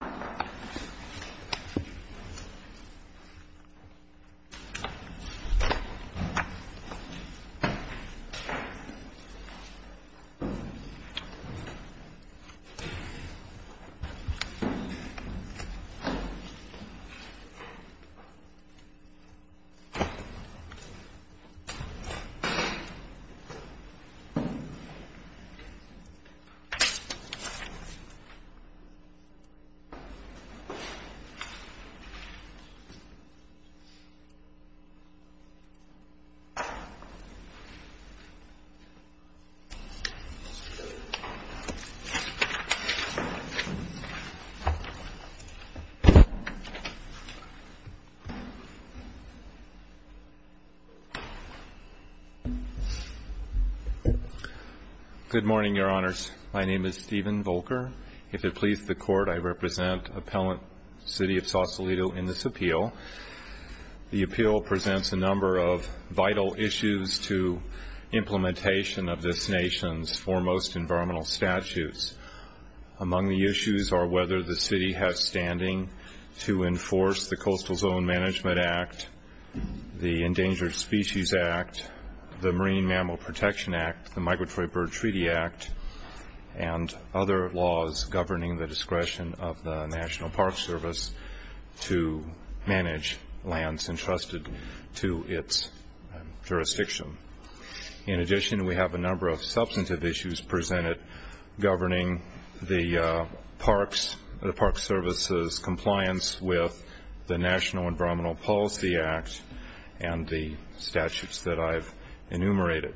Sausalito v. O'Neill Good morning, Your Honors. My name is Stephen Volcker. If it pleases the Court, I represent Appellant City of Sausalito in this appeal. The appeal presents a number of vital issues to implementation of this nation's foremost environmental statutes. Among the issues are whether the city has standing to enforce the Coastal Zone Management Act, the Endangered Species Act, the Marine Mammal Protection Act, the governing the discretion of the National Park Service to manage lands entrusted to its jurisdiction. In addition, we have a number of substantive issues presented governing the Park Service's compliance with the National Environmental Policy Act and the statutes that I've enumerated.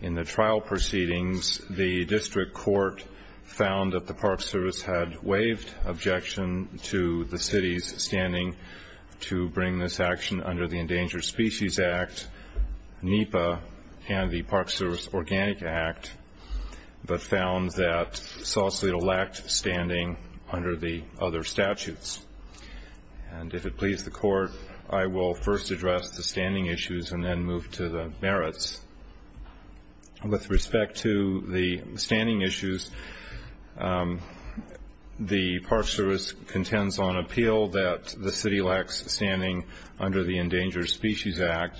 In the trial proceedings, the district court found that the Park Service had waived objection to the city's standing to bring this action under the Endangered Species Act, NEPA, and the Park Service Organic Act, but found that Sausalito lacked standing under the other statutes. And if it pleases the Court, I will first address the Park Service. With respect to the standing issues, the Park Service contends on appeal that the city lacks standing under the Endangered Species Act.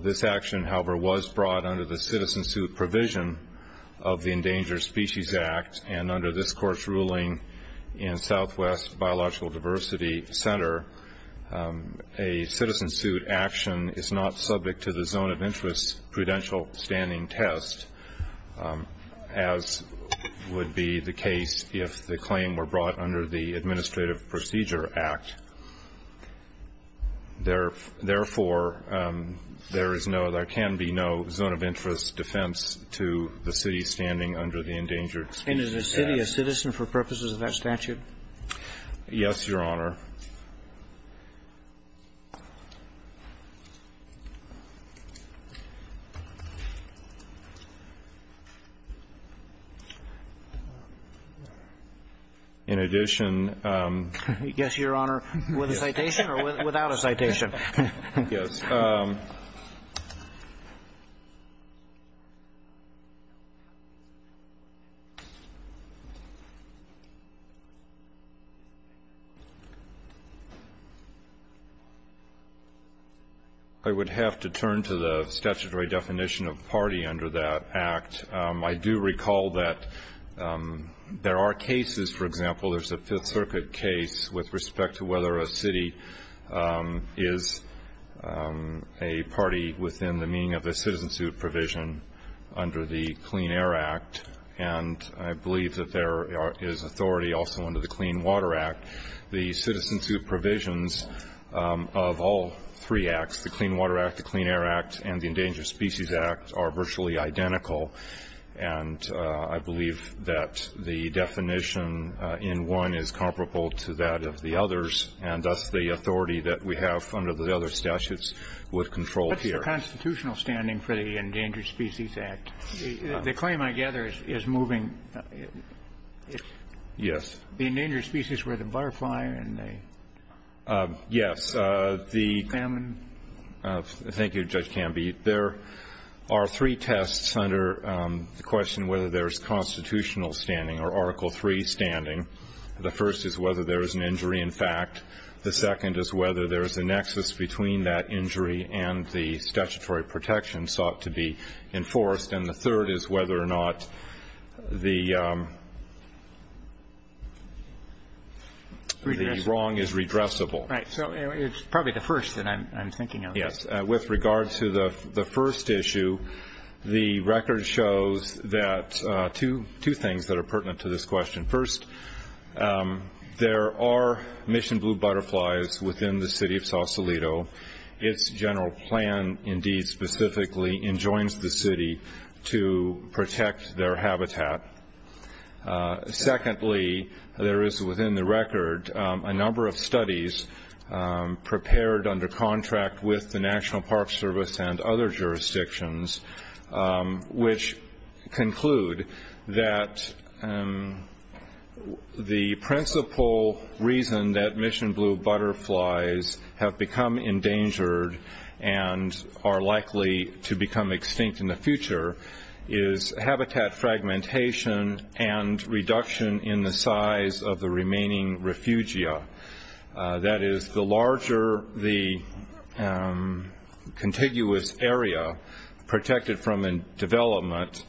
This action, however, was brought under the citizen suit provision of the Endangered Species Act. And under this Court's ruling in Southwest Biological Diversity Center, a citizen suit action is not subject to the zone of interest prudential standing test, as would be the case if the claim were brought under the Administrative Procedure Act. Therefore, there can be no zone of interest defense to the city standing under the Endangered Species Act. And is the city a citizen for purposes of that statute? Yes, Your Honor. In addition Yes, Your Honor. With a citation or without a citation? Yes. I would have to turn to the statutory definition of party under that act. I do recall that there are cases, for example, there's a city is a party within the meaning of a citizen suit provision under the Clean Air Act. And I believe that there is authority also under the Clean Water Act. The citizen suit provisions of all three acts, the Clean Water Act, the Clean Air Act, and the Endangered Species Act are virtually identical. And I believe that the definition in one is that the city is a citizen for purposes of that act. And thus, the authority that we have under the other statutes would control here. What's the constitutional standing for the Endangered Species Act? The claim, I gather, is moving. Yes. The endangered species were the butterfly and the salmon. Yes. Thank you, Judge Canby. There are three tests under the question whether there's a constitutional standing or Article III standing. The first is whether there is an injury in fact. The second is whether there is a nexus between that injury and the statutory protection sought to be enforced. And the third is whether or not the wrong is redressable. Right. So it's probably the first that I'm thinking of. Yes. With regard to the first issue, the record shows that two things that are pertinent to this question. First, there are mission blue butterflies within the city of Sausalito. Its general plan indeed specifically enjoins the city to protect their habitat. Secondly, there is within the record a number of studies prepared under contract with the National Park Service and other jurisdictions which conclude that the principal reason that mission blue butterflies have become endangered and are likely to become extinct in the future is habitat fragmentation and reduction in the size of the remaining refugia. That is, the larger the contiguous area protected from development,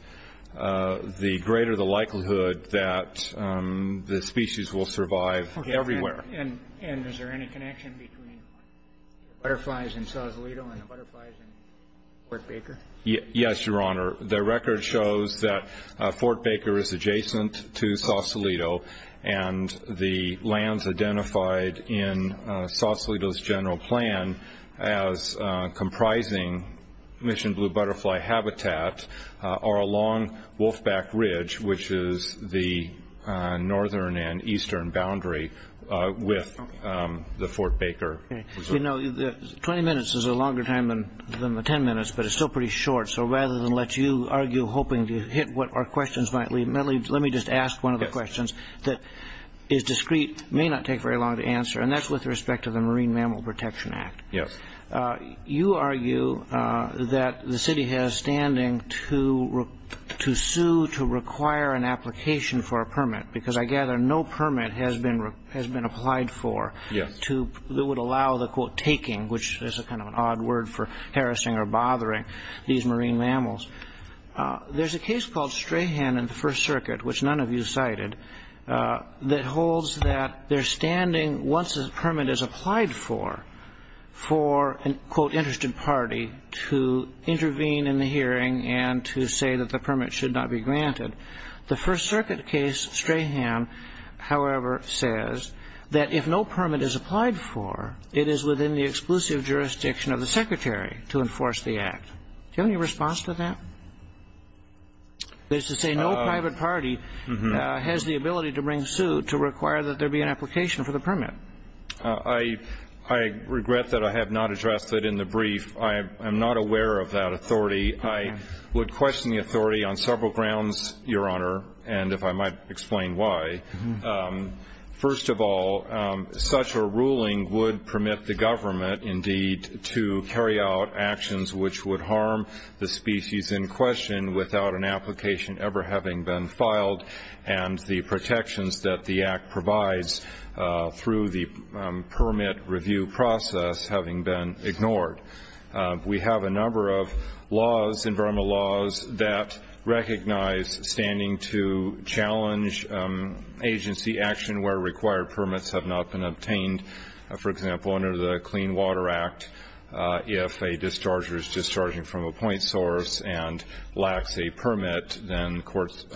the greater the likelihood that the species will survive everywhere. Okay. And is there any connection between the butterflies in Sausalito and the butterflies in Fort Baker? Yes, Your Honor. The record shows that Fort Baker is adjacent to Sausalito, and the lands identified in Sausalito's general plan as comprising mission blue butterfly habitat are along Wolfback Ridge, which is the northern and eastern boundary with the Fort Baker. Okay. You know, 20 minutes is a longer time than the 10 minutes, but it's still pretty short. So rather than let you argue hoping to hit what our questions might be, let me just ask one of the questions that is discreet, may not take very long to answer, and that's with respect to the Marine Mammal Protection Act. Yes. You argue that the city has standing to sue, to require an application for a permit, because I gather no permit has been applied for that would allow the, quote, taking, which is kind of an odd word for harassing or bothering these marine mammals. There's a case called Strahan in the First Circuit, which none of you cited, that holds that there's standing, once a permit is applied for, for an, quote, interested party to intervene in the hearing and to say that the permit should not be granted. The First Circuit case, Strahan, however, says that if no permit is applied for, it is within the exclusive jurisdiction of the secretary to enforce the act. Do you have any response to that? They say no private party has the ability to bring suit to require that there be an application for the permit. I regret that I have not addressed it in the brief. I am not aware of that authority. I would question the authority on several grounds, Your Honor, and if I might explain why. First of all, such a ruling would permit the government, indeed, to carry out actions which would harm the species in question without an application ever having been filed, and the protections that the act provides through the permit review process having been ignored. We have a number of laws, environmental laws that recognize standing to challenge agency action where required permits have not been obtained, for example, under the Clean Water Act if a discharger is discharging from a point source and lacks a permit, then the courts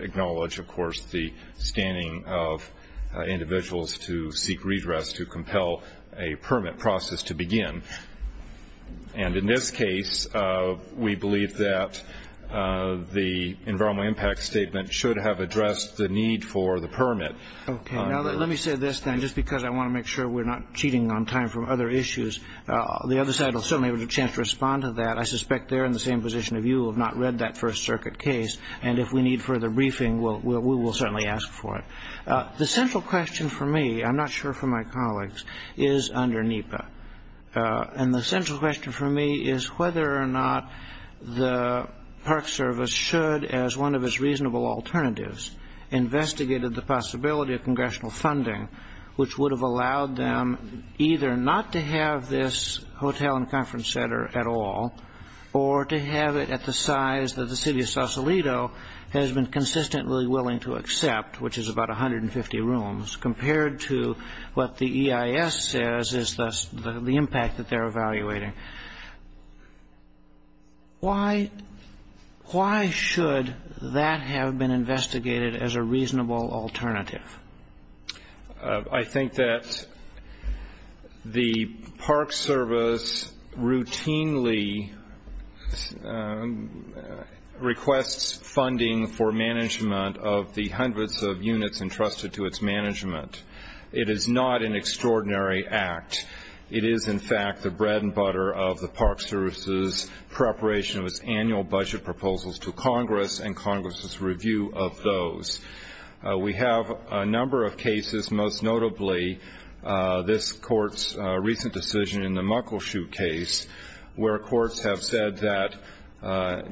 acknowledge, of course, the standing of individuals to seek redress to compel a permit process to begin. And in this case, we believe that the environmental impact statement should have addressed the need for the permit. Okay. Now, let me say this, then, just because I want to make sure we're not cheating on time from other issues. The other side will certainly have a chance to respond to that. I suspect they're in the same position as you, who have not read that First Circuit case, and if we need further briefing, we will certainly ask for it. The central question for me, I'm not sure for my colleagues, is under NEPA. And the central question for me is whether or not the Park Service should, as one of its reasonable alternatives, investigated the possibility of congressional funding, which would have allowed them either not to have this hotel and conference center at all, or to have it at the size that the city of Sausalito has been consistently willing to accept, which is about 150 rooms, compared to what the EIS says is the impact that they're evaluating. Why should that have been investigated as a reasonable alternative? I think that the Park Service routinely requests funding for management of the hundreds of units entrusted to its management. It is not an extraordinary act. It is, in fact, the bread and butter of the Park Service's preparation of its annual budget proposals to Congress and Congress's review of those. We have a number of cases, most notably this Court's recent decision in the Muckleshoot case, where courts have said that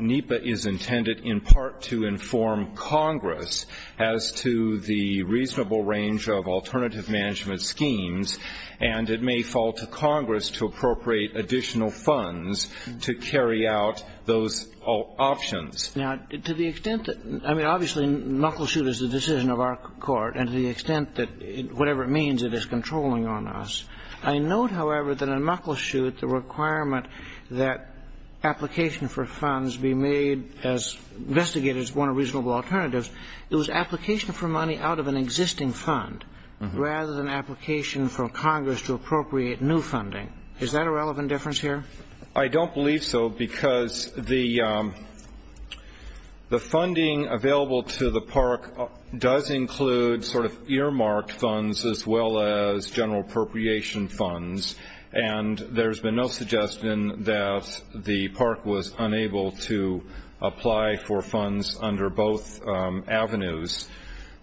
NEPA is intended in part to inform Congress as to the reasonable range of alternative management schemes, and it may fall to Congress to appropriate additional funds to carry out those options. Now, to the extent that — I mean, obviously, Muckleshoot is the decision of our Court, and to the extent that whatever it means, it is controlling on us. I note, however, that in Muckleshoot, the requirement that application for funds be made as investigated as one of reasonable alternatives, it was application for money out of an existing fund rather than application from Congress to appropriate new funding. Is that a relevant difference here? I don't believe so because the funding available to the Park does include sort of earmarked funds as well as general appropriation funds, and there's been no suggestion that the Park was unable to apply for funds under both avenues.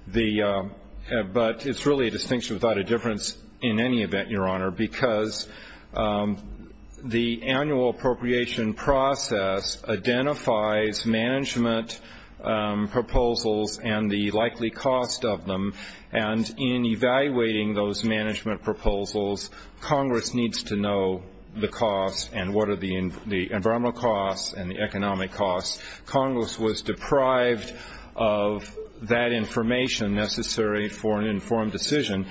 But it's really a distinction without a difference in any event, Your Honor, because the annual appropriation process identifies management proposals and the likely cost of them, and in evaluating those management proposals, Congress needs to know the costs and what are the environmental costs and the economic costs. Congress was deprived of that information necessary for an informed decision.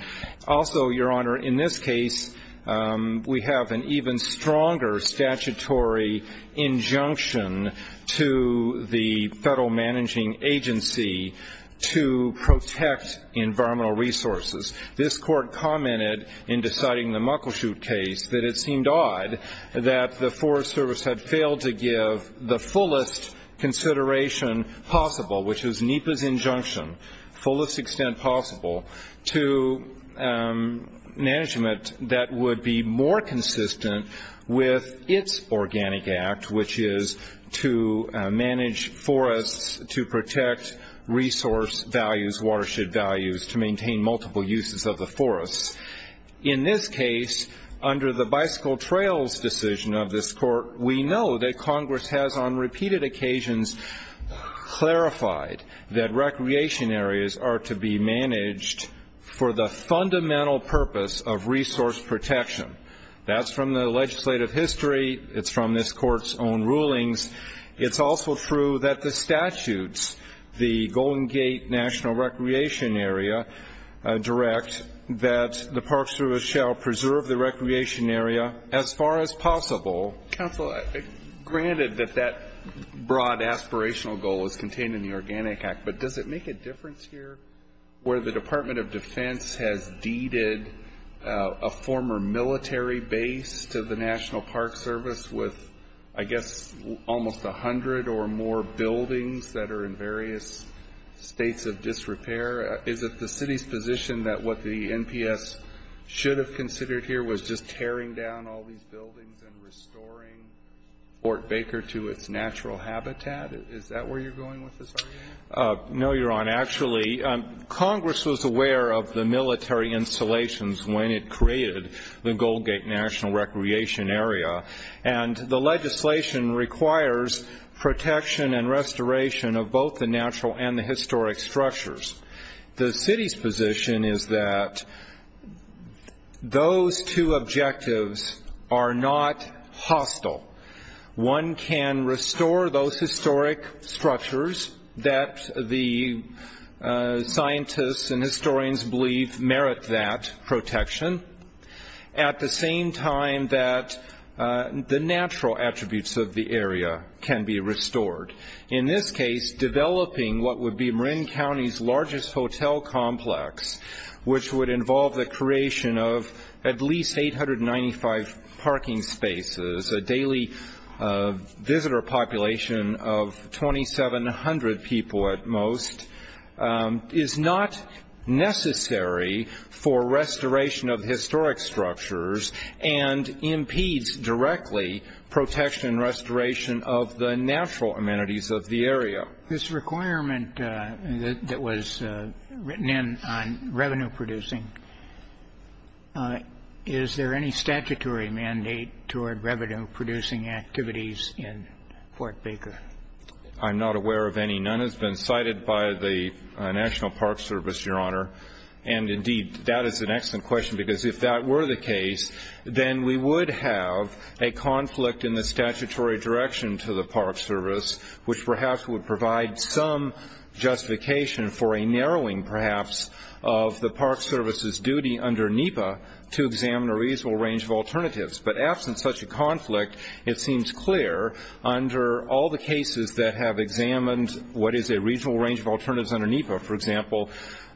Also, Your Honor, in this case, we have an even stronger statutory injunction to the federal managing agency to protect environmental resources. This Court commented in deciding the Muckleshoot case that it seemed odd that the Forest Service had failed to give the fullest consideration possible, which was NEPA's injunction, fullest extent possible to management that would be more consistent with its organic act, which is to manage forests to protect resource values, watershed values, to maintain multiple uses of the forests. In this case, under the bicycle trails decision of this Court, we know that Congress has on repeated occasions clarified that recreation areas are to be managed for the fundamental purpose of resource protection. That's from the legislative history. It's from this Court's own rulings. It's also true that the statutes, the Golden Gate National Recreation Area Direct, that the Park Service shall preserve the recreation area as far as possible. Counsel, granted that that broad aspirational goal is contained in the organic act, but does it make a difference here where the Department of Defense has deeded a former military base to the National Park Service with, I guess, almost 100 or more buildings that are in various states of disrepair? Is it the city's position that what the NPS should have considered here was just tearing down all these buildings and restoring Fort Baker to its natural habitat? Is that where you're going with this argument? No, Your Honor. Congress was aware of the military installations when it created the Golden Gate National Recreation Area, and the legislation requires protection and restoration of both the natural and the historic structures. The city's position is that those two objectives are not hostile. One can restore those historic structures that the scientists and historians believe merit that protection, at the same time that the natural attributes of the area can be restored. In this case, developing what would be Marin County's largest hotel complex, which would involve the creation of at least 895 parking spaces, a daily visitor population of 2,700 people at most, is not necessary for restoration of historic structures and impedes directly protection and restoration of the natural amenities of the area. This requirement that was written in on revenue producing, is there any statutory mandate toward revenue producing activities in Fort Baker? I'm not aware of any. None has been cited by the National Park Service, Your Honor. And indeed, that is an excellent question, because if that were the case, then we would have a conflict in the statutory direction to the Park Service, which perhaps would provide some justification for a narrowing, perhaps, of the Park Service's duty under NEPA to examine a reasonable range of alternatives. But absent such a conflict, it seems clear under all the cases that have examined what is a reasonable range of alternatives under NEPA, for example,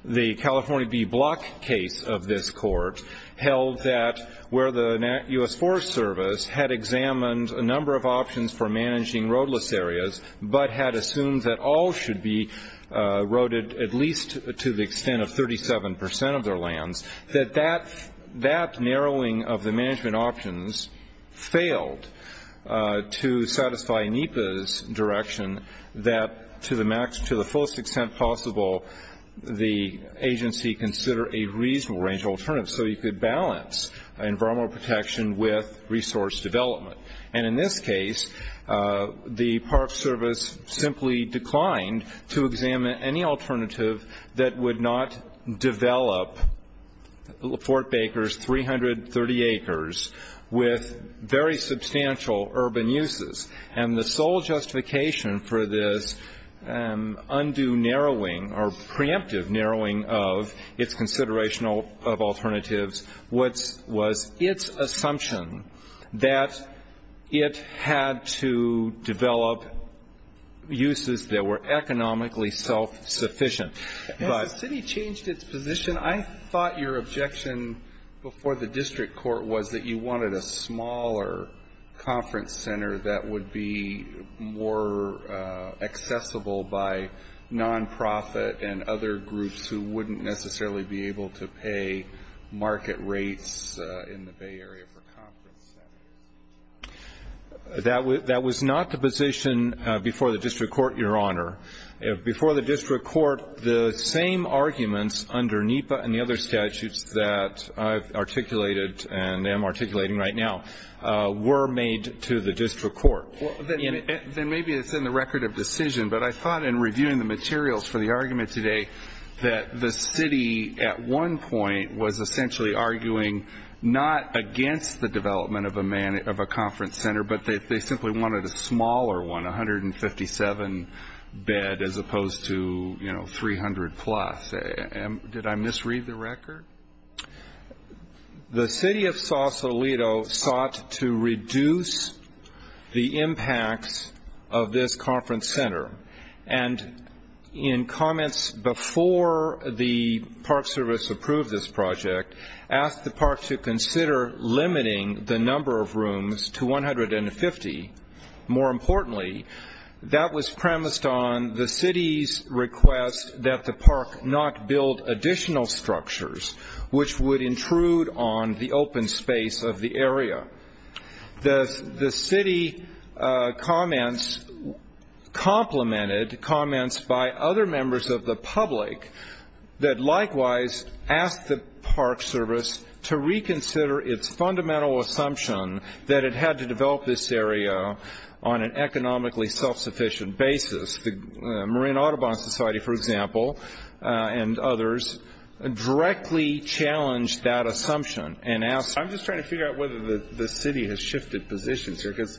the California B Block case of this court held that where the U.S. Forest Service had examined a number of options for managing roadless areas, but had assumed that all should be roaded at least to the extent of 37% of their lands, that that narrowing of the management options failed to satisfy NEPA's direction that to the fullest extent possible, the agency consider a reasonable range of alternatives so you could balance environmental protection with resource development. And in this case, the Park Service simply declined to examine any alternative that would not develop Fort Baker's 330 acres with very substantial urban uses. And the sole justification for this undue narrowing or preemptive narrowing of its consideration of alternatives was its assumption that it had to develop uses that were economically self-sufficient. But the city changed its position. I thought your objection before the district court was that you wanted a smaller conference center that would be more accessible by nonprofit and other groups who wouldn't necessarily be able to pay market rates in the Bay Area for conference centers. That was not the position before the district court, Your Honor. Before the district court, the same arguments under NEPA and the other statutes that I've articulated and am articulating right now were made to the district court. Then maybe it's in the record of decision, but I thought in reviewing the materials for the argument today that the city at one point was essentially arguing not against the development of a conference center, but they simply wanted a smaller one, 157 bed as opposed to 300 plus. Did I misread the record? The city of Sausalito sought to reduce the impacts of this conference center, and in comments before the Park Service approved this project, asked the park to consider limiting the number of rooms to 150. More importantly, that was premised on the city's request that the park not build additional structures which would intrude on the open space of the area. The city commented, comments by other members of the public, that likewise asked the Park Service to reconsider its fundamental assumption that it had to develop this area on an economically self-sufficient basis. The Marine Audubon Society, for example, and others directly challenged that assumption and asked, I'm just trying to figure out whether the city has shifted positions here, because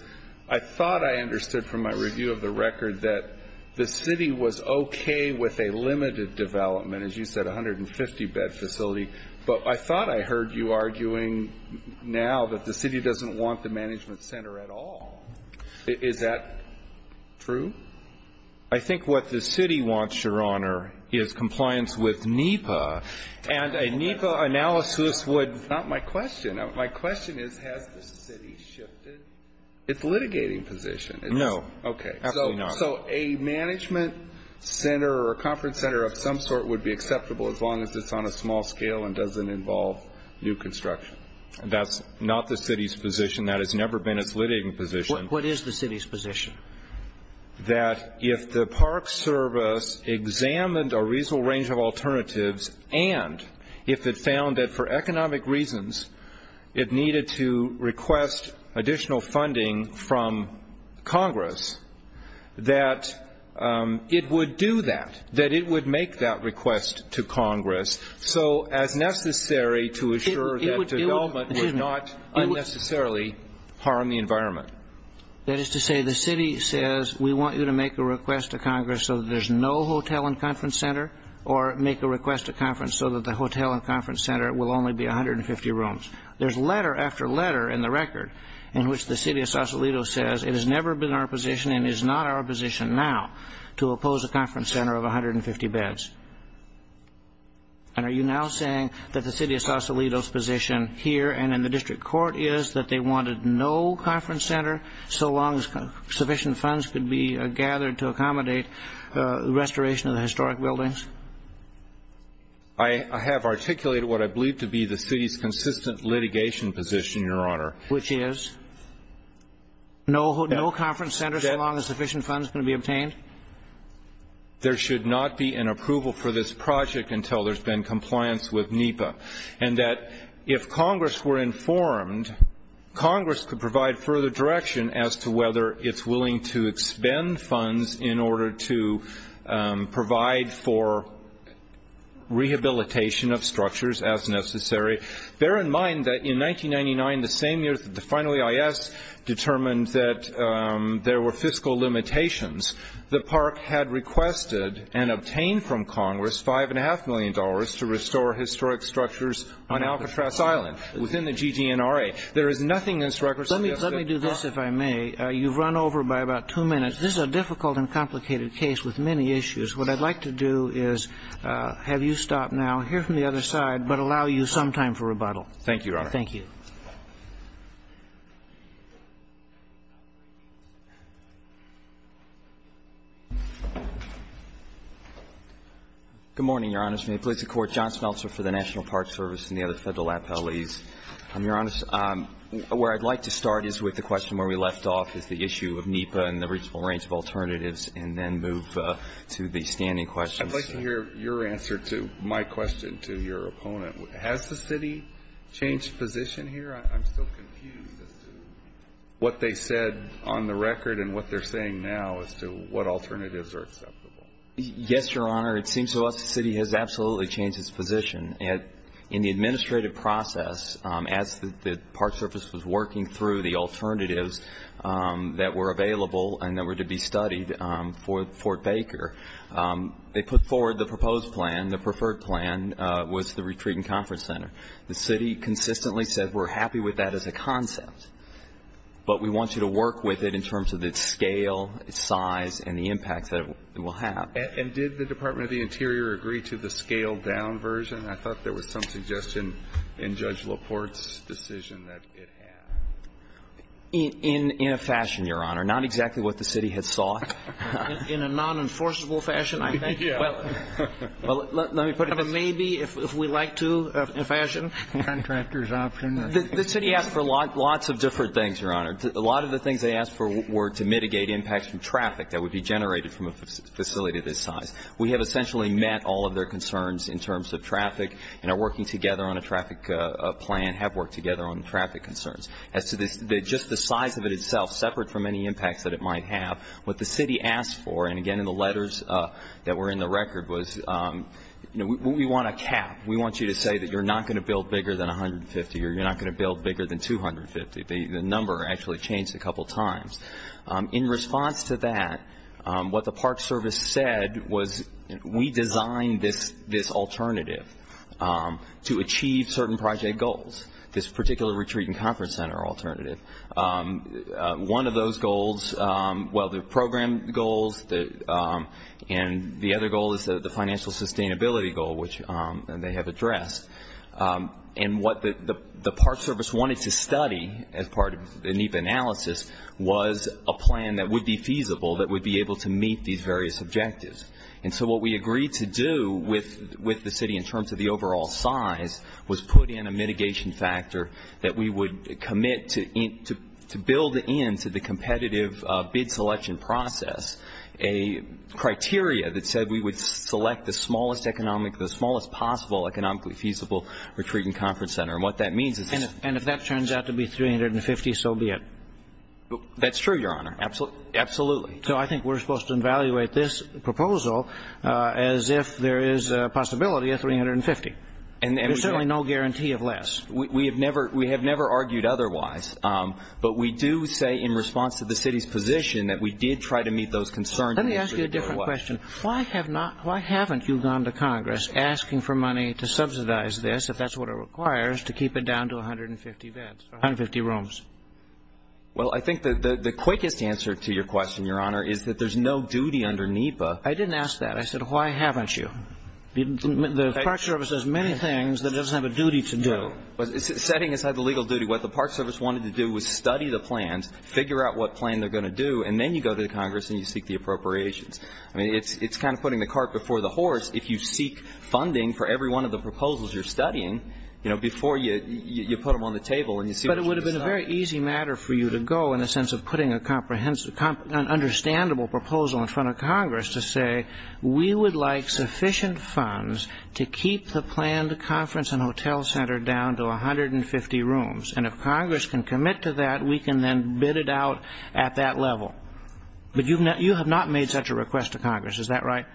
I thought I understood from my review of the record that the city was okay with a limited development, as you said, 150 bed facility, but I thought I heard you arguing now that the city doesn't want the management center at all. Is that true? I think what the city wants, Your Honor, is compliance with NEPA, and a NEPA analysis would Not my question. My question is, has the city shifted its litigating position? No. Okay. Absolutely not. So a management center or conference center of some sort would be acceptable as long as it's on a small scale and doesn't involve new construction. That's not the city's position. That has never been its litigating position. What is the city's position? That if the Park Service examined a reasonable range of alternatives, and if it found that for economic reasons it needed to request additional funding from Congress, that it would do that, that it would make that request to Congress, so as necessary to assure that development would not unnecessarily harm the environment. That is to say, the city says, we want you to make a request to Congress so that there's no hotel and conference center, or make a request to conference so that the hotel and conference center will only be 150 rooms. There's letter after letter in the record in which the city of Sausalito says, it has never been our position and is not our position now to oppose a conference center of 150 beds. And are you now saying that the city of Sausalito's position here and in the district court is that they wanted no conference center so long as sufficient funds could be gathered to accommodate restoration of the historic buildings? I have articulated what I believe to be the city's consistent litigation position, Your Honor. Which is? No conference center so long as sufficient funds can be obtained? There should not be an approval for this project until there's been compliance with NEPA. And that if Congress were informed, Congress could provide further direction as to whether it's willing to expend funds in order to provide for rehabilitation of structures as necessary. Bear in mind that in 1999, the same year that the final EIS determined that there were fiscal limitations, the park had requested and obtained from Congress $5.5 million to restore historic structures on Alcatraz Island, within the GTNRA. There is nothing in this record suggesting that the park- Let me do this, if I may. You've run over by about two minutes. This is a difficult and complicated case with many issues. What I'd like to do is have you stop now, hear from the other side, but allow you some time for rebuttal. Thank you, Your Honor. Thank you. Good morning, Your Honors. May it please the Court. John Smeltzer for the National Park Service and the other Federal appellees. Your Honor, where I'd like to start is with the question where we left off, is the issue of NEPA and the reasonable range of alternatives, and then move to the standing questions. I'd like to hear your answer to my question to your opponent. Has the city changed position here? I'm still confused as to what they said on the record and what they're saying now as to what alternatives are acceptable. Yes, Your Honor. It seems to us the city has absolutely changed its position. In the administrative process, as the Park Service was working through the alternatives that were available and that were to be studied for Fort Baker, they put forward the proposed plan, the preferred plan was the retreat and conference center. The city consistently said we're happy with that as a concept, but we want you to work with it in terms of its scale, its size, and the impact that it will have. And did the Department of the Interior agree to the scaled-down version? I thought there was some suggestion in Judge LaPorte's decision that it had. In a fashion, Your Honor. Not exactly what the city had sought. In a non-enforceable fashion? Well, let me put it this way. Maybe, if we like to, in fashion. Contractor's option. The city asked for lots of different things, Your Honor. A lot of the things they asked for were to mitigate impacts from traffic that would be generated from a facility this size. We have essentially met all of their concerns in terms of traffic and are working together on a traffic plan, and have worked together on traffic concerns. As to just the size of it itself, separate from any impacts that it might have, what the city asked for, and again in the letters that were in the record, was we want a cap. We want you to say that you're not going to build bigger than 150 or you're not going to build bigger than 250. The number actually changed a couple times. In response to that, what the Park Service said was we designed this alternative to achieve certain project goals, this particular retreat and conference center alternative. One of those goals, well, the program goals and the other goal is the financial sustainability goal, which they have addressed. And what the Park Service wanted to study as part of the NEPA analysis was a plan that would be feasible, that would be able to meet these various objectives. And so what we agreed to do with the city in terms of the overall size was put in a mitigation factor that we would commit to build into the competitive bid selection process a criteria that said we would select the smallest economic, the smallest possible economically feasible retreat and conference center. And what that means is. And if that turns out to be 350, so be it. That's true, Your Honor. Absolutely. So I think we're supposed to evaluate this proposal as if there is a possibility of 350. There's certainly no guarantee of less. We have never argued otherwise, but we do say in response to the city's position that we did try to meet those concerns. Let me ask you a different question. Why haven't you gone to Congress asking for money to subsidize this if that's what it requires to keep it down to 150 beds, 150 rooms? Well, I think the quickest answer to your question, Your Honor, is that there's no duty under NEPA. I didn't ask that. I said why haven't you? The Park Service does many things that it doesn't have a duty to do. Setting aside the legal duty, what the Park Service wanted to do was study the plans, figure out what plan they're going to do, and then you go to the Congress and you seek the appropriations. I mean, it's kind of putting the cart before the horse if you seek funding for every one of the proposals you're studying, you know, before you put them on the table and you see what you decide. But it would have been a very easy matter for you to go in the sense of putting an understandable proposal in front of Congress to say we would like sufficient funds to keep the planned conference and hotel center down to 150 rooms, and if Congress can commit to that, we can then bid it out at that level. But you have not made such a request to Congress. Is that right?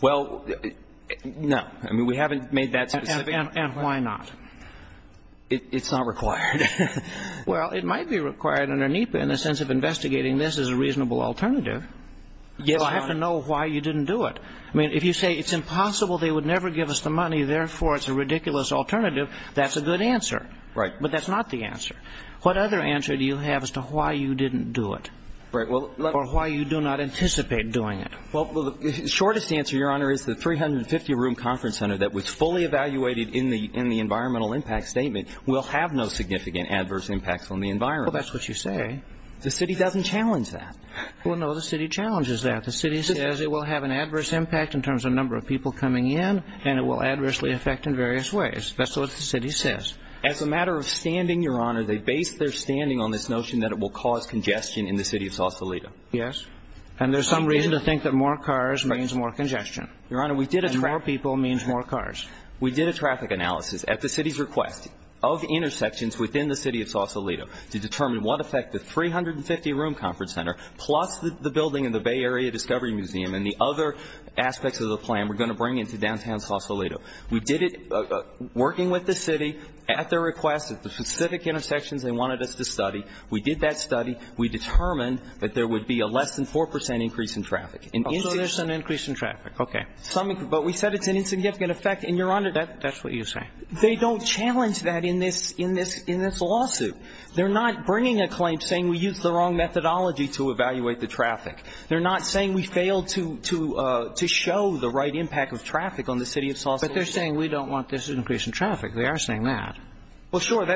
Well, no. I mean, we haven't made that specific request. And why not? It's not required. Well, it might be required under NEPA in the sense of investigating this as a reasonable alternative. Yes, Your Honor. So I have to know why you didn't do it. I mean, if you say it's impossible, they would never give us the money, therefore it's a ridiculous alternative, that's a good answer. Right. But that's not the answer. What other answer do you have as to why you didn't do it or why you do not anticipate doing it? Well, the shortest answer, Your Honor, is the 350-room conference center that was fully evaluated in the environmental impact statement will have no significant adverse impacts on the environment. Well, that's what you say. The city doesn't challenge that. Well, no, the city challenges that. The city says it will have an adverse impact in terms of the number of people coming in, and it will adversely affect in various ways. That's what the city says. As a matter of standing, Your Honor, they base their standing on this notion that it will cause congestion in the city of Sausalito. Yes. And there's some reason to think that more cars means more congestion. And more people means more cars. We did a traffic analysis at the city's request of intersections within the city of Sausalito to determine what effect the 350-room conference center plus the building in the Bay Area Discovery Museum and the other aspects of the plan were going to bring into downtown Sausalito. We did it working with the city at their request at the specific intersections they wanted us to study. We did that study. We determined that there would be a less than 4 percent increase in traffic. So there's an increase in traffic. Okay. But we said it's an insignificant effect. And, Your Honor, that's what you're saying. They don't challenge that in this lawsuit. They're not bringing a claim saying we used the wrong methodology to evaluate the traffic. They're not saying we failed to show the right impact of traffic on the city of Sausalito. But they're saying we don't want this increase in traffic. They are saying that. Well, sure.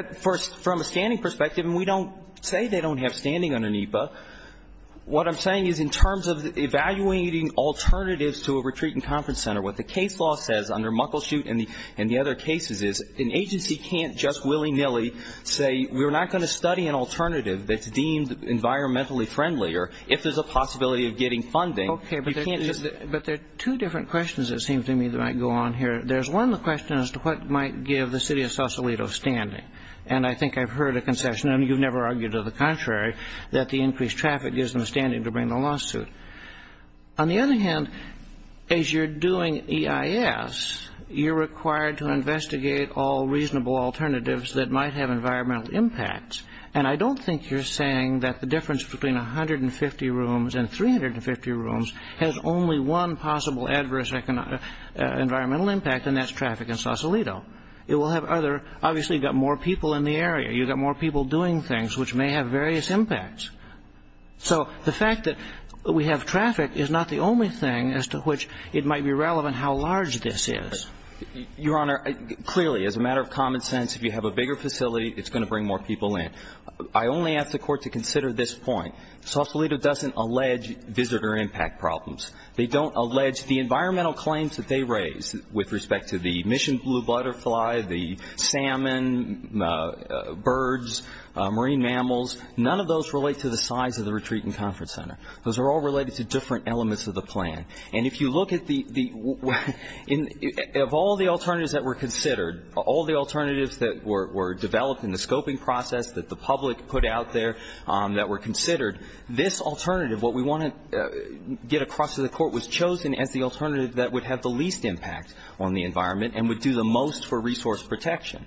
From a standing perspective, and we don't say they don't have standing under NEPA, what I'm saying is in terms of evaluating alternatives to a retreat and conference center, what the case law says under Muckleshoot and the other cases is an agency can't just willy-nilly say we're not going to study an alternative that's deemed environmentally friendly or if there's a possibility of getting funding. Okay. But there are two different questions, it seems to me, that might go on here. There's one question as to what might give the city of Sausalito standing. And I think I've heard a concession, and you've never argued to the contrary, that the increased traffic gives them standing to bring the lawsuit. On the other hand, as you're doing EIS, you're required to investigate all reasonable alternatives that might have environmental impacts. And I don't think you're saying that the difference between 150 rooms and 350 rooms has only one possible adverse environmental impact, and that's traffic in Sausalito. It will have other – obviously, you've got more people in the area. You've got more people doing things which may have various impacts. So the fact that we have traffic is not the only thing as to which it might be relevant how large this is. Your Honor, clearly, as a matter of common sense, if you have a bigger facility, it's going to bring more people in. I only ask the Court to consider this point. Sausalito doesn't allege visitor impact problems. They don't allege the environmental claims that they raise with respect to the mission blue butterfly, the salmon, birds, marine mammals. None of those relate to the size of the retreat and conference center. Those are all related to different elements of the plan. And if you look at the – of all the alternatives that were considered, all the alternatives that were developed in the scoping process that the public put out there that were considered, this alternative, what we want to get across to the Court, was chosen as the alternative that would have the least impact on the environment and would do the most for resource protection.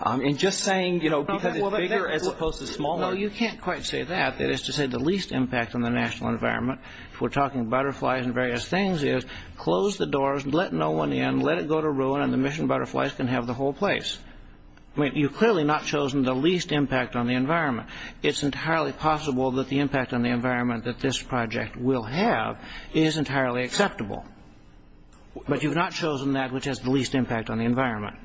And just saying, you know, because it's bigger as opposed to smaller. No, you can't quite say that. That is to say the least impact on the national environment, if we're talking butterflies and various things, is close the doors, let no one in, let it go to ruin and the mission butterflies can have the whole place. I mean, you've clearly not chosen the least impact on the environment. It's entirely possible that the impact on the environment that this project will have is entirely acceptable. But you've not chosen that which has the least impact on the environment.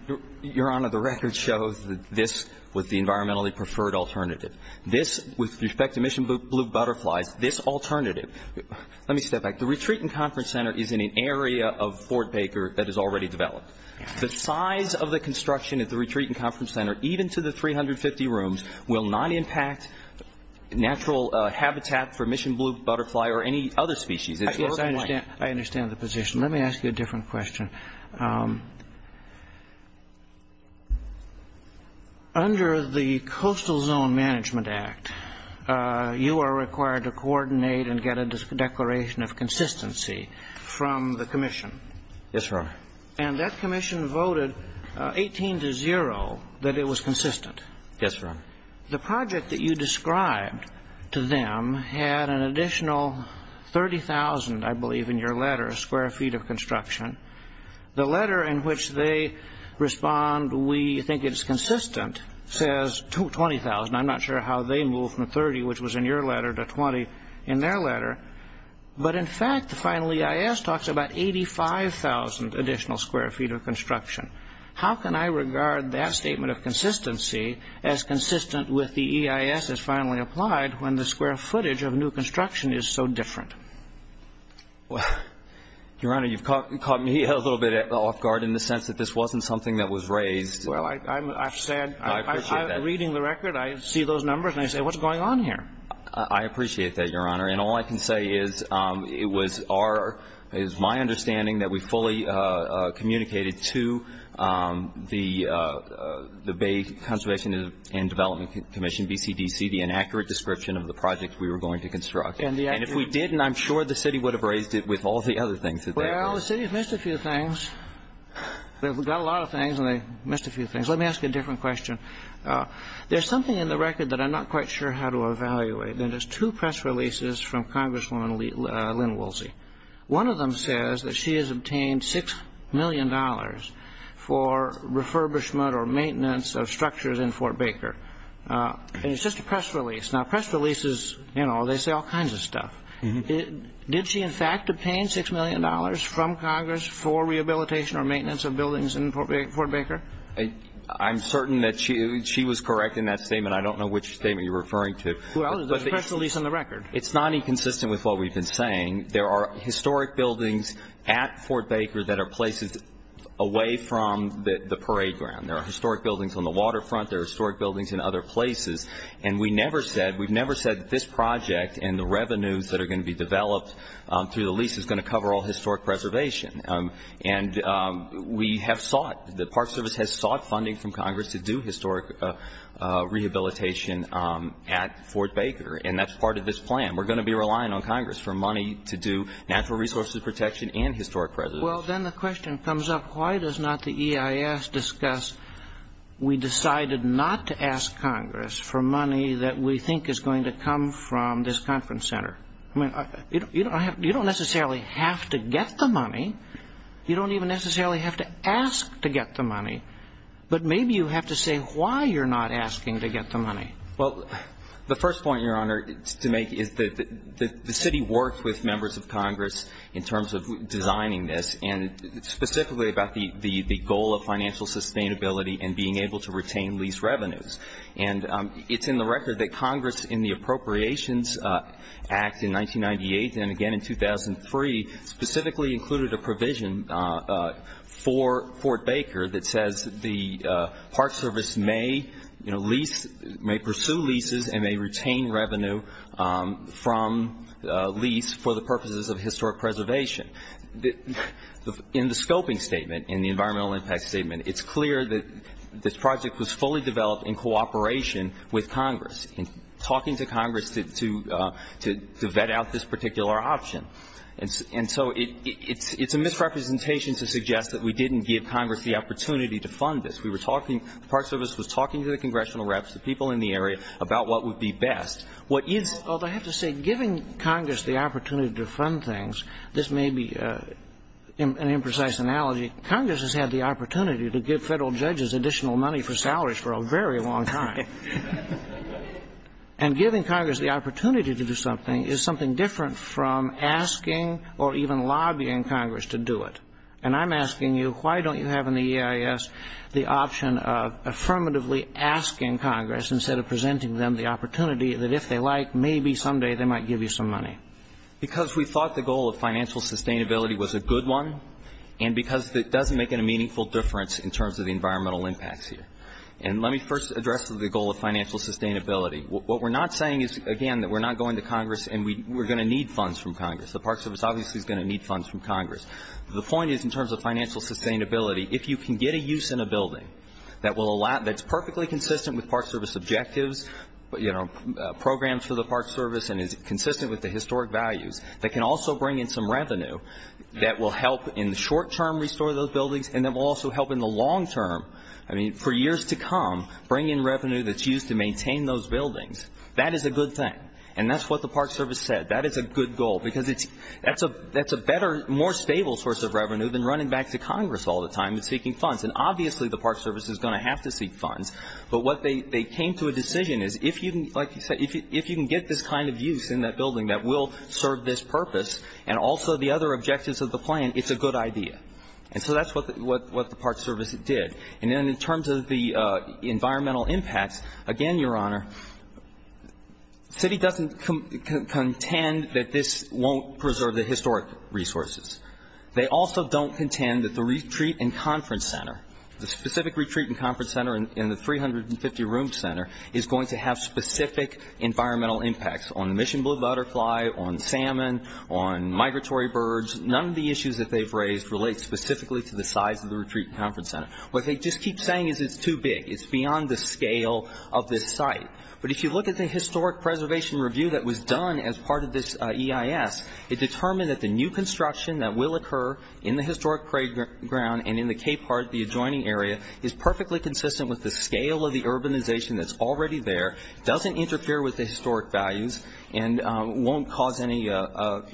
Your Honor, the record shows that this was the environmentally preferred alternative. This, with respect to mission blue butterflies, this alternative – let me step back. The Retreat and Conference Center is in an area of Fort Baker that is already developed. The size of the construction at the Retreat and Conference Center, even to the 350 rooms, will not impact natural habitat for mission blue butterfly or any other species. I understand the position. Let me ask you a different question. Under the Coastal Zone Management Act, you are required to coordinate and get a declaration of consistency from the commission. Yes, Your Honor. And that commission voted 18-0 that it was consistent. Yes, Your Honor. The project that you described to them had an additional 30,000, I believe, in your letter, square feet of construction. The letter in which they respond, we think it's consistent, says 20,000. I'm not sure how they moved from 30, which was in your letter, to 20 in their letter. But, in fact, the final EIS talks about 85,000 additional square feet of construction. How can I regard that statement of consistency as consistent with the EIS as finally applied when the square footage of new construction is so different? Your Honor, you've caught me a little bit off guard in the sense that this wasn't something that was raised. Well, I've said. I appreciate that. I'm reading the record. I see those numbers, and I say, what's going on here? I appreciate that, Your Honor. And all I can say is it was my understanding that we fully communicated to the Bay Conservation and Development Commission, BCDC, the inaccurate description of the project we were going to construct. And if we didn't, I'm sure the city would have raised it with all the other things. Well, the city has missed a few things. They've got a lot of things, and they missed a few things. Let me ask you a different question. There's something in the record that I'm not quite sure how to evaluate, and it's two press releases from Congresswoman Lynn Woolsey. One of them says that she has obtained $6 million for refurbishment or maintenance of structures in Fort Baker. And it's just a press release. Now, press releases, you know, they say all kinds of stuff. Did she, in fact, obtain $6 million from Congress for rehabilitation or maintenance of buildings in Fort Baker? I'm certain that she was correct in that statement. I don't know which statement you're referring to. Well, there's a press release in the record. It's not inconsistent with what we've been saying. There are historic buildings at Fort Baker that are places away from the parade ground. There are historic buildings on the waterfront. There are historic buildings in other places. And we never said, we've never said that this project and the revenues that are going to be developed through the lease is going to cover all historic preservation. And we have sought, the Park Service has sought funding from Congress to do historic rehabilitation at Fort Baker, and that's part of this plan. We're going to be relying on Congress for money to do natural resources protection and historic preservation. Well, then the question comes up, why does not the EIS discuss, we decided not to ask Congress for money that we think is going to come from this conference center? I mean, you don't necessarily have to get the money. You don't even necessarily have to ask to get the money. But maybe you have to say why you're not asking to get the money. Well, the first point, Your Honor, to make is that the city worked with members of Congress in terms of designing this, and specifically about the goal of financial sustainability and being able to retain lease revenues. And it's in the record that Congress in the Appropriations Act in 1998 and again in 2003 specifically included a provision for Fort Baker that says the Park Service may lease, may pursue leases, and may retain revenue from lease for the purposes of historic preservation. In the scoping statement, in the environmental impact statement, it's clear that this project was fully developed in cooperation with Congress, in talking to Congress to vet out this particular option. And so it's a misrepresentation to suggest that we didn't give Congress the opportunity to fund this. We were talking, the Park Service was talking to the congressional reps, the people in the area, about what would be best. What is the best? Although I have to say, giving Congress the opportunity to fund things, this may be an imprecise analogy, Congress has had the opportunity to give Federal judges additional money for salaries for a very long time. And giving Congress the opportunity to do something is something different from asking or even lobbying Congress to do it. And I'm asking you, why don't you have in the EIS the option of affirmatively asking Congress, instead of presenting them the opportunity that if they like, maybe someday they might give you some money? Because we thought the goal of financial sustainability was a good one, and because it doesn't make a meaningful difference in terms of the environmental impacts here. And let me first address the goal of financial sustainability. What we're not saying is, again, that we're not going to Congress and we're going to need funds from Congress. The Park Service obviously is going to need funds from Congress. The point is, in terms of financial sustainability, if you can get a use in a building that's perfectly consistent with Park Service objectives, programs for the Park Service and is consistent with the historic values, that can also bring in some revenue that will help in the short term restore those buildings and that will also help in the long term, I mean, for years to come, bring in revenue that's used to maintain those buildings, that is a good thing. And that's what the Park Service said. That is a good goal because that's a better, more stable source of revenue than running back to Congress all the time and seeking funds. And obviously the Park Service is going to have to seek funds, but what they came to a decision is, like you said, if you can get this kind of use in that building that will serve this purpose and also the other objectives of the plan, it's a good idea. And so that's what the Park Service did. And then in terms of the environmental impacts, again, Your Honor, Citi doesn't contend that this won't preserve the historic resources. They also don't contend that the retreat and conference center, the specific retreat and conference center and the 350-room center is going to have specific environmental impacts on Mission Blue Butterfly, on salmon, on migratory birds. None of the issues that they've raised relate specifically to the size of the retreat and conference center. What they just keep saying is it's too big. It's beyond the scale of this site. But if you look at the historic preservation review that was done as part of this EIS, it determined that the new construction that will occur in the historic playground and in the Cape Heart, the adjoining area, is perfectly consistent with the scale of the urbanization that's already there, doesn't interfere with the historic values, and won't cause any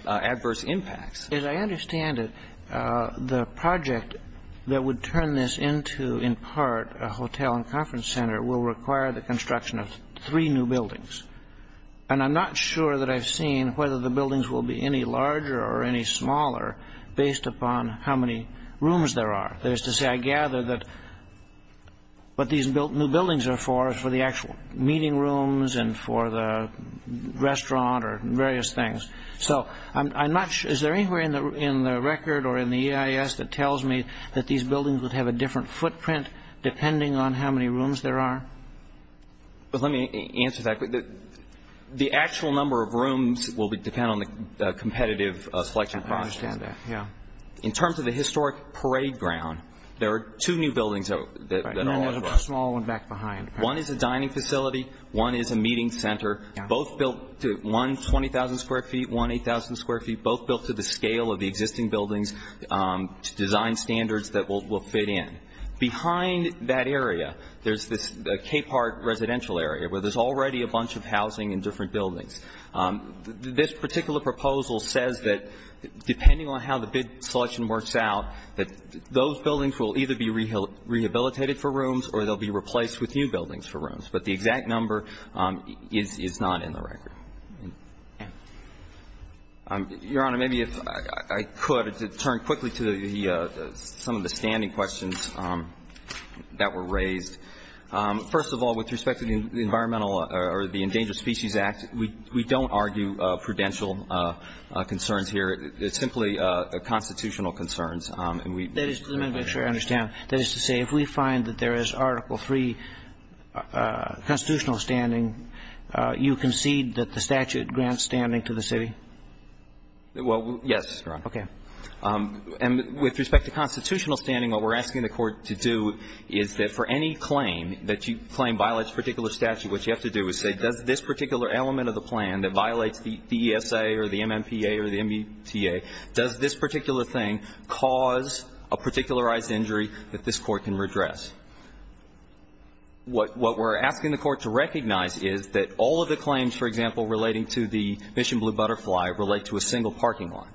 adverse impacts. As I understand it, the project that would turn this into, in part, a hotel and conference center will require the construction of three new buildings. And I'm not sure that I've seen whether the buildings will be any larger or any smaller based upon how many rooms there are. That is to say, I gather that what these new buildings are for is for the actual meeting rooms and for the restaurant or various things. So I'm not sure. Is there anywhere in the record or in the EIS that tells me that these buildings would have a different footprint depending on how many rooms there are? Let me answer that. The actual number of rooms will depend on the competitive selection process. I understand that, yeah. In terms of the historic parade ground, there are two new buildings that are already there. There's a small one back behind. One is a dining facility. One is a meeting center, both built to 120,000 square feet, 1,000 square feet, both built to the scale of the existing buildings to design standards that will fit in. Behind that area, there's this Capehart residential area where there's already a bunch of housing and different buildings. This particular proposal says that depending on how the bid selection works out, that those buildings will either be rehabilitated for rooms or they'll be replaced with new buildings for rooms. But the exact number is not in the record. Your Honor, maybe if I could turn quickly to some of the standing questions that were raised. First of all, with respect to the Environmental or the Endangered Species Act, we don't argue prudential concerns here. It's simply constitutional concerns. Let me make sure I understand. That is to say, if we find that there is Article III constitutional standing, you concede that the statute grants standing to the city? Well, yes, Your Honor. Okay. And with respect to constitutional standing, what we're asking the Court to do is that for any claim that you claim violates a particular statute, what you have to do is say, does this particular element of the plan that violates the ESA or the MMPA or the MBTA, does this particular thing cause a particularized injury that this Court can redress? What we're asking the Court to recognize is that all of the claims, for example, relating to the Mission Blue Butterfly relate to a single parking lot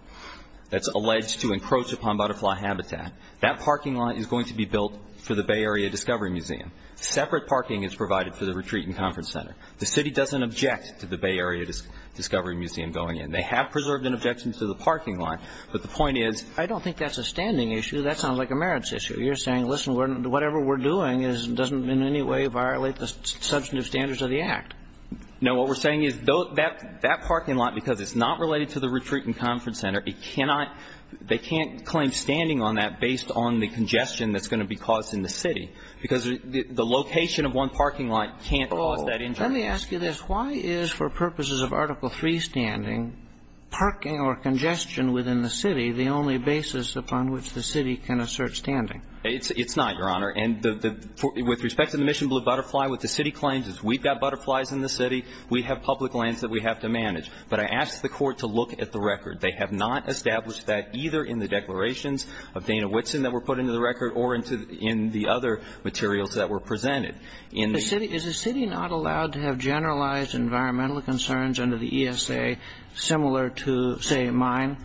that's alleged to encroach upon butterfly habitat. That parking lot is going to be built for the Bay Area Discovery Museum. Separate parking is provided for the retreat and conference center. The city doesn't object to the Bay Area Discovery Museum going in. They have preserved an objection to the parking lot. But the point is ---- I don't think that's a standing issue. That sounds like a merits issue. You're saying, listen, whatever we're doing doesn't in any way violate the substantive standards of the Act. No. What we're saying is that parking lot, because it's not related to the retreat and conference center, it cannot ---- they can't claim standing on that based on the congestion that's going to be caused in the city, because the location of one parking lot can't cause that injury. Let me ask you this. Why is, for purposes of Article III standing, parking or congestion within the city the only basis upon which the city can assert standing? It's not, Your Honor. And with respect to the Mission Blue Butterfly, what the city claims is we've got butterflies in the city, we have public lands that we have to manage. But I ask the Court to look at the record. They have not established that either in the declarations of Dana Whitson that were put into the record or in the other materials that were presented. In the city ---- Is the city not allowed to have generalized environmental concerns under the ESA similar to, say, mine?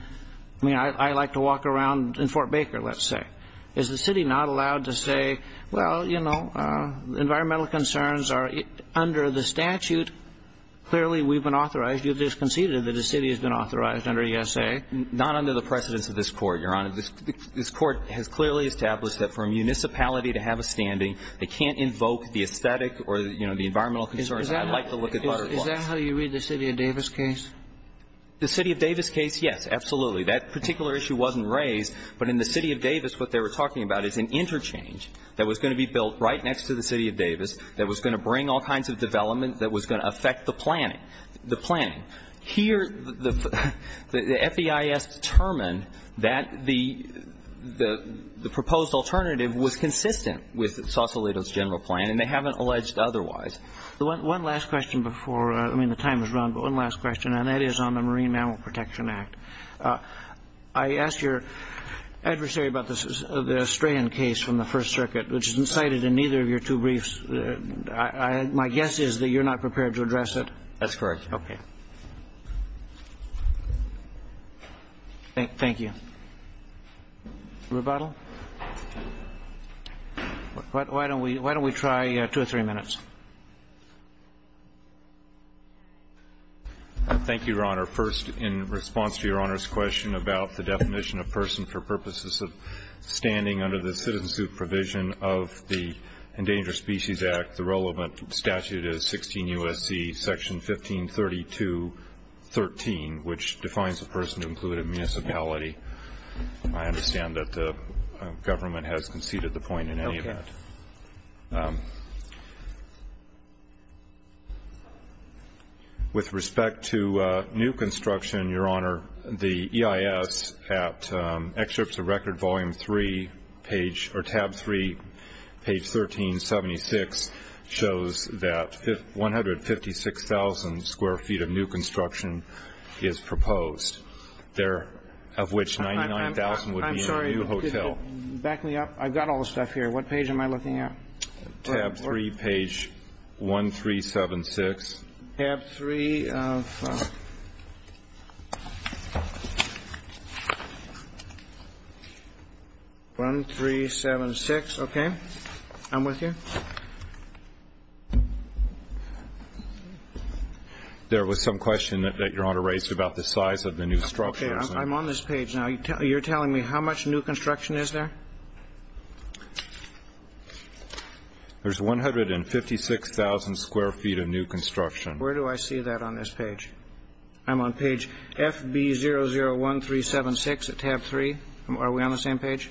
I mean, I like to walk around in Fort Baker, let's say. Is the city not allowed to say, well, you know, environmental concerns are under the statute. Clearly, we've been authorized. You've just conceded that the city has been authorized under ESA. Not under the precedence of this Court, Your Honor. This Court has clearly established that for a municipality to have a standing, they can't invoke the aesthetic or, you know, the environmental concerns. I'd like to look at butterflies. Is that how you read the City of Davis case? The City of Davis case, yes, absolutely. That particular issue wasn't raised. But in the City of Davis, what they were talking about is an interchange that was going to be built right next to the City of Davis that was going to bring all kinds of development that was going to affect the planning. The planning. And they have not alleged otherwise. One last question before, I mean, the time is run, but one last question, and that is on the Marine Mammal Protection Act. I asked your adversary about the Strayan case from the First Circuit, which is cited in neither of your two briefs. My guess is that you're not prepared to address it. That's correct. Okay. Thank you. Rebuttal? Why don't we try two or three minutes? Thank you, Your Honor. First, in response to Your Honor's question about the definition of person for purposes of standing under the citizen supervision of the Endangered Species Act, the relevant statute is 16 U.S.C. Section 1532.13, which defines a person to include a municipality. I understand that the government has conceded the point in any event. Okay. With respect to new construction, Your Honor, the EIS at Excerpts of Record Volume 3, page 1376 shows that 156,000 square feet of new construction is proposed, of which 99,000 would be in a new hotel. I'm sorry. Back me up. I've got all the stuff here. What page am I looking at? Tab 3, page 1376. Tab 3 of 1376. Okay. I'm with you. There was some question that Your Honor raised about the size of the new structure. Okay. I'm on this page now. You're telling me how much new construction is there? There's 156,000 square feet of new construction. Where do I see that on this page? I'm on page FB001376 at tab 3. Are we on the same page?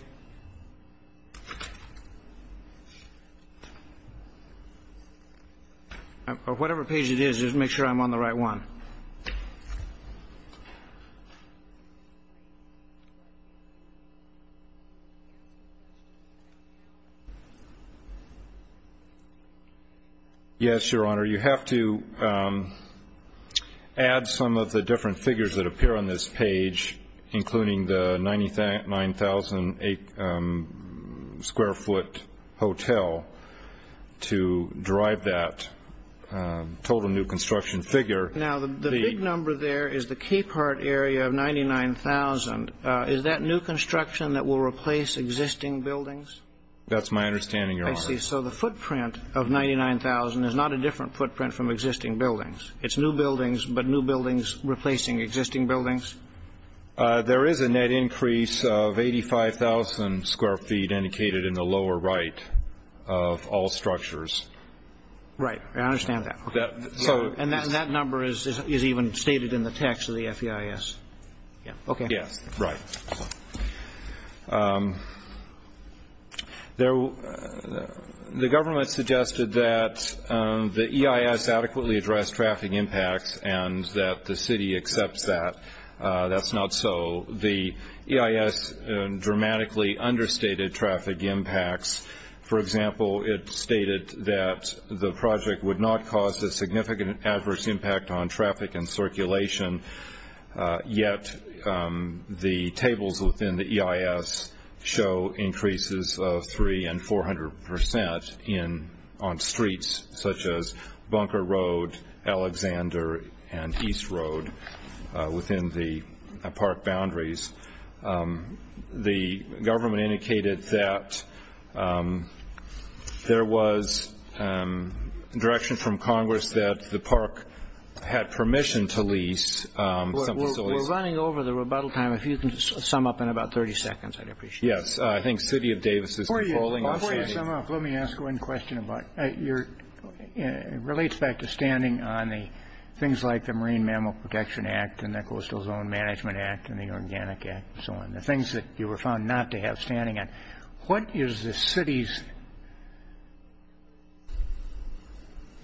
Or whatever page it is, just make sure I'm on the right one. Yes, Your Honor. Your Honor, you have to add some of the different figures that appear on this page, including the 99,000 square foot hotel to derive that total new construction figure. Now, the big number there is the Cape Heart area of 99,000. Is that new construction that will replace existing buildings? That's my understanding, Your Honor. I see. So the footprint of 99,000 is not a different footprint from existing buildings. It's new buildings, but new buildings replacing existing buildings? There is a net increase of 85,000 square feet indicated in the lower right of all structures. Right. I understand that. And that number is even stated in the text of the FEIS. Yes. Right. The government suggested that the EIS adequately addressed traffic impacts and that the city accepts that. That's not so. The EIS dramatically understated traffic impacts. For example, it stated that the project would not cause a significant adverse impact on traffic and circulation, yet the tables within the EIS show increases of 300 and 400 percent on streets, such as Bunker Road, Alexander, and East Road within the park boundaries. The government indicated that there was direction from Congress that the park had permission to lease some facilities. We're running over the rebuttal time. If you can sum up in about 30 seconds, I'd appreciate it. Yes. I think City of Davis is defaulting. Before you sum up, let me ask one question. It relates back to standing on the things like the Marine Mammal Protection Act and the Coastal Zone Management Act and the Organic Act and so on, the things that you were found not to have standing on. What is the city's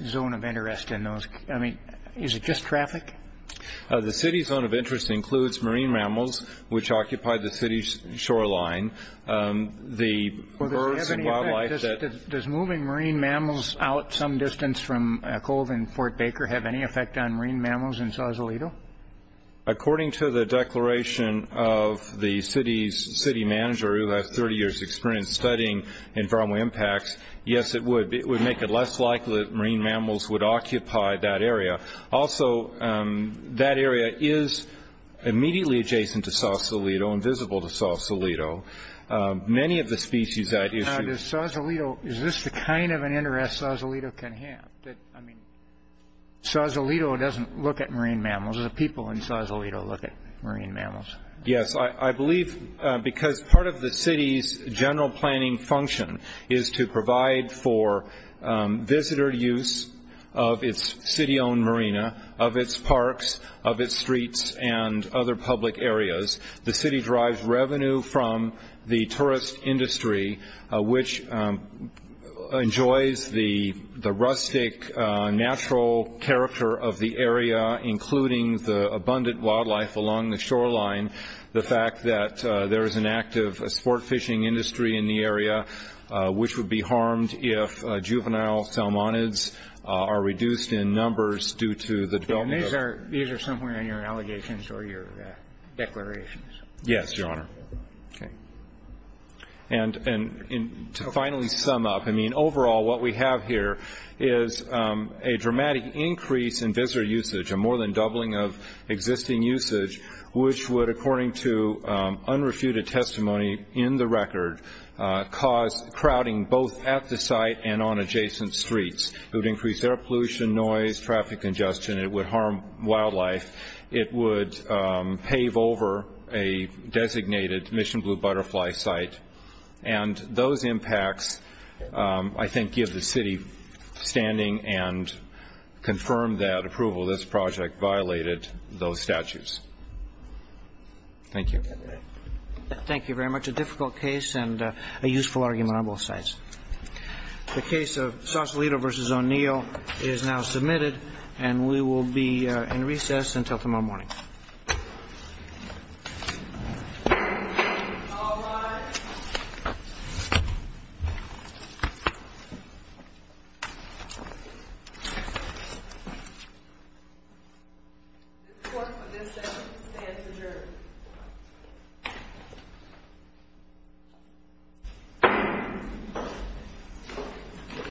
zone of interest in those? I mean, is it just traffic? The city's zone of interest includes marine mammals, which occupy the city's shoreline. Does moving marine mammals out some distance from Cove and Fort Baker have any effect on marine mammals in Sausalito? According to the declaration of the city's city manager, who has 30 years' experience studying environmental impacts, yes, it would. It would make it less likely that marine mammals would occupy that area. Also, that area is immediately adjacent to Sausalito and visible to Sausalito. Many of the species that issue— Now, does Sausalito—is this the kind of an interest Sausalito can have? I mean, Sausalito doesn't look at marine mammals. The people in Sausalito look at marine mammals. Yes, I believe because part of the city's general planning function is to provide for visitor use of its city-owned marina, of its parks, of its streets, and other public areas. The city drives revenue from the tourist industry, which enjoys the rustic, natural character of the area, including the abundant wildlife along the shoreline, the fact that there is an active sport fishing industry in the area, which would be harmed if juvenile salmonids are reduced in numbers due to the development of— These are somewhere in your allegations or your declarations. Yes, Your Honor. Okay. And to finally sum up, I mean, overall what we have here is a dramatic increase in visitor usage, a more than doubling of existing usage, which would, according to unrefuted testimony in the record, cause crowding both at the site and on adjacent streets. It would increase air pollution, noise, traffic congestion. It would harm wildlife. It would pave over a designated Mission Blue Butterfly site. And those impacts, I think, give the city standing and confirm that approval of this project violated those statutes. Thank you. Thank you very much. A difficult case and a useful argument on both sides. The case of Sausalito v. O'Neill is now submitted, and we will be in recess until tomorrow morning. All rise. The court for this session stands adjourned.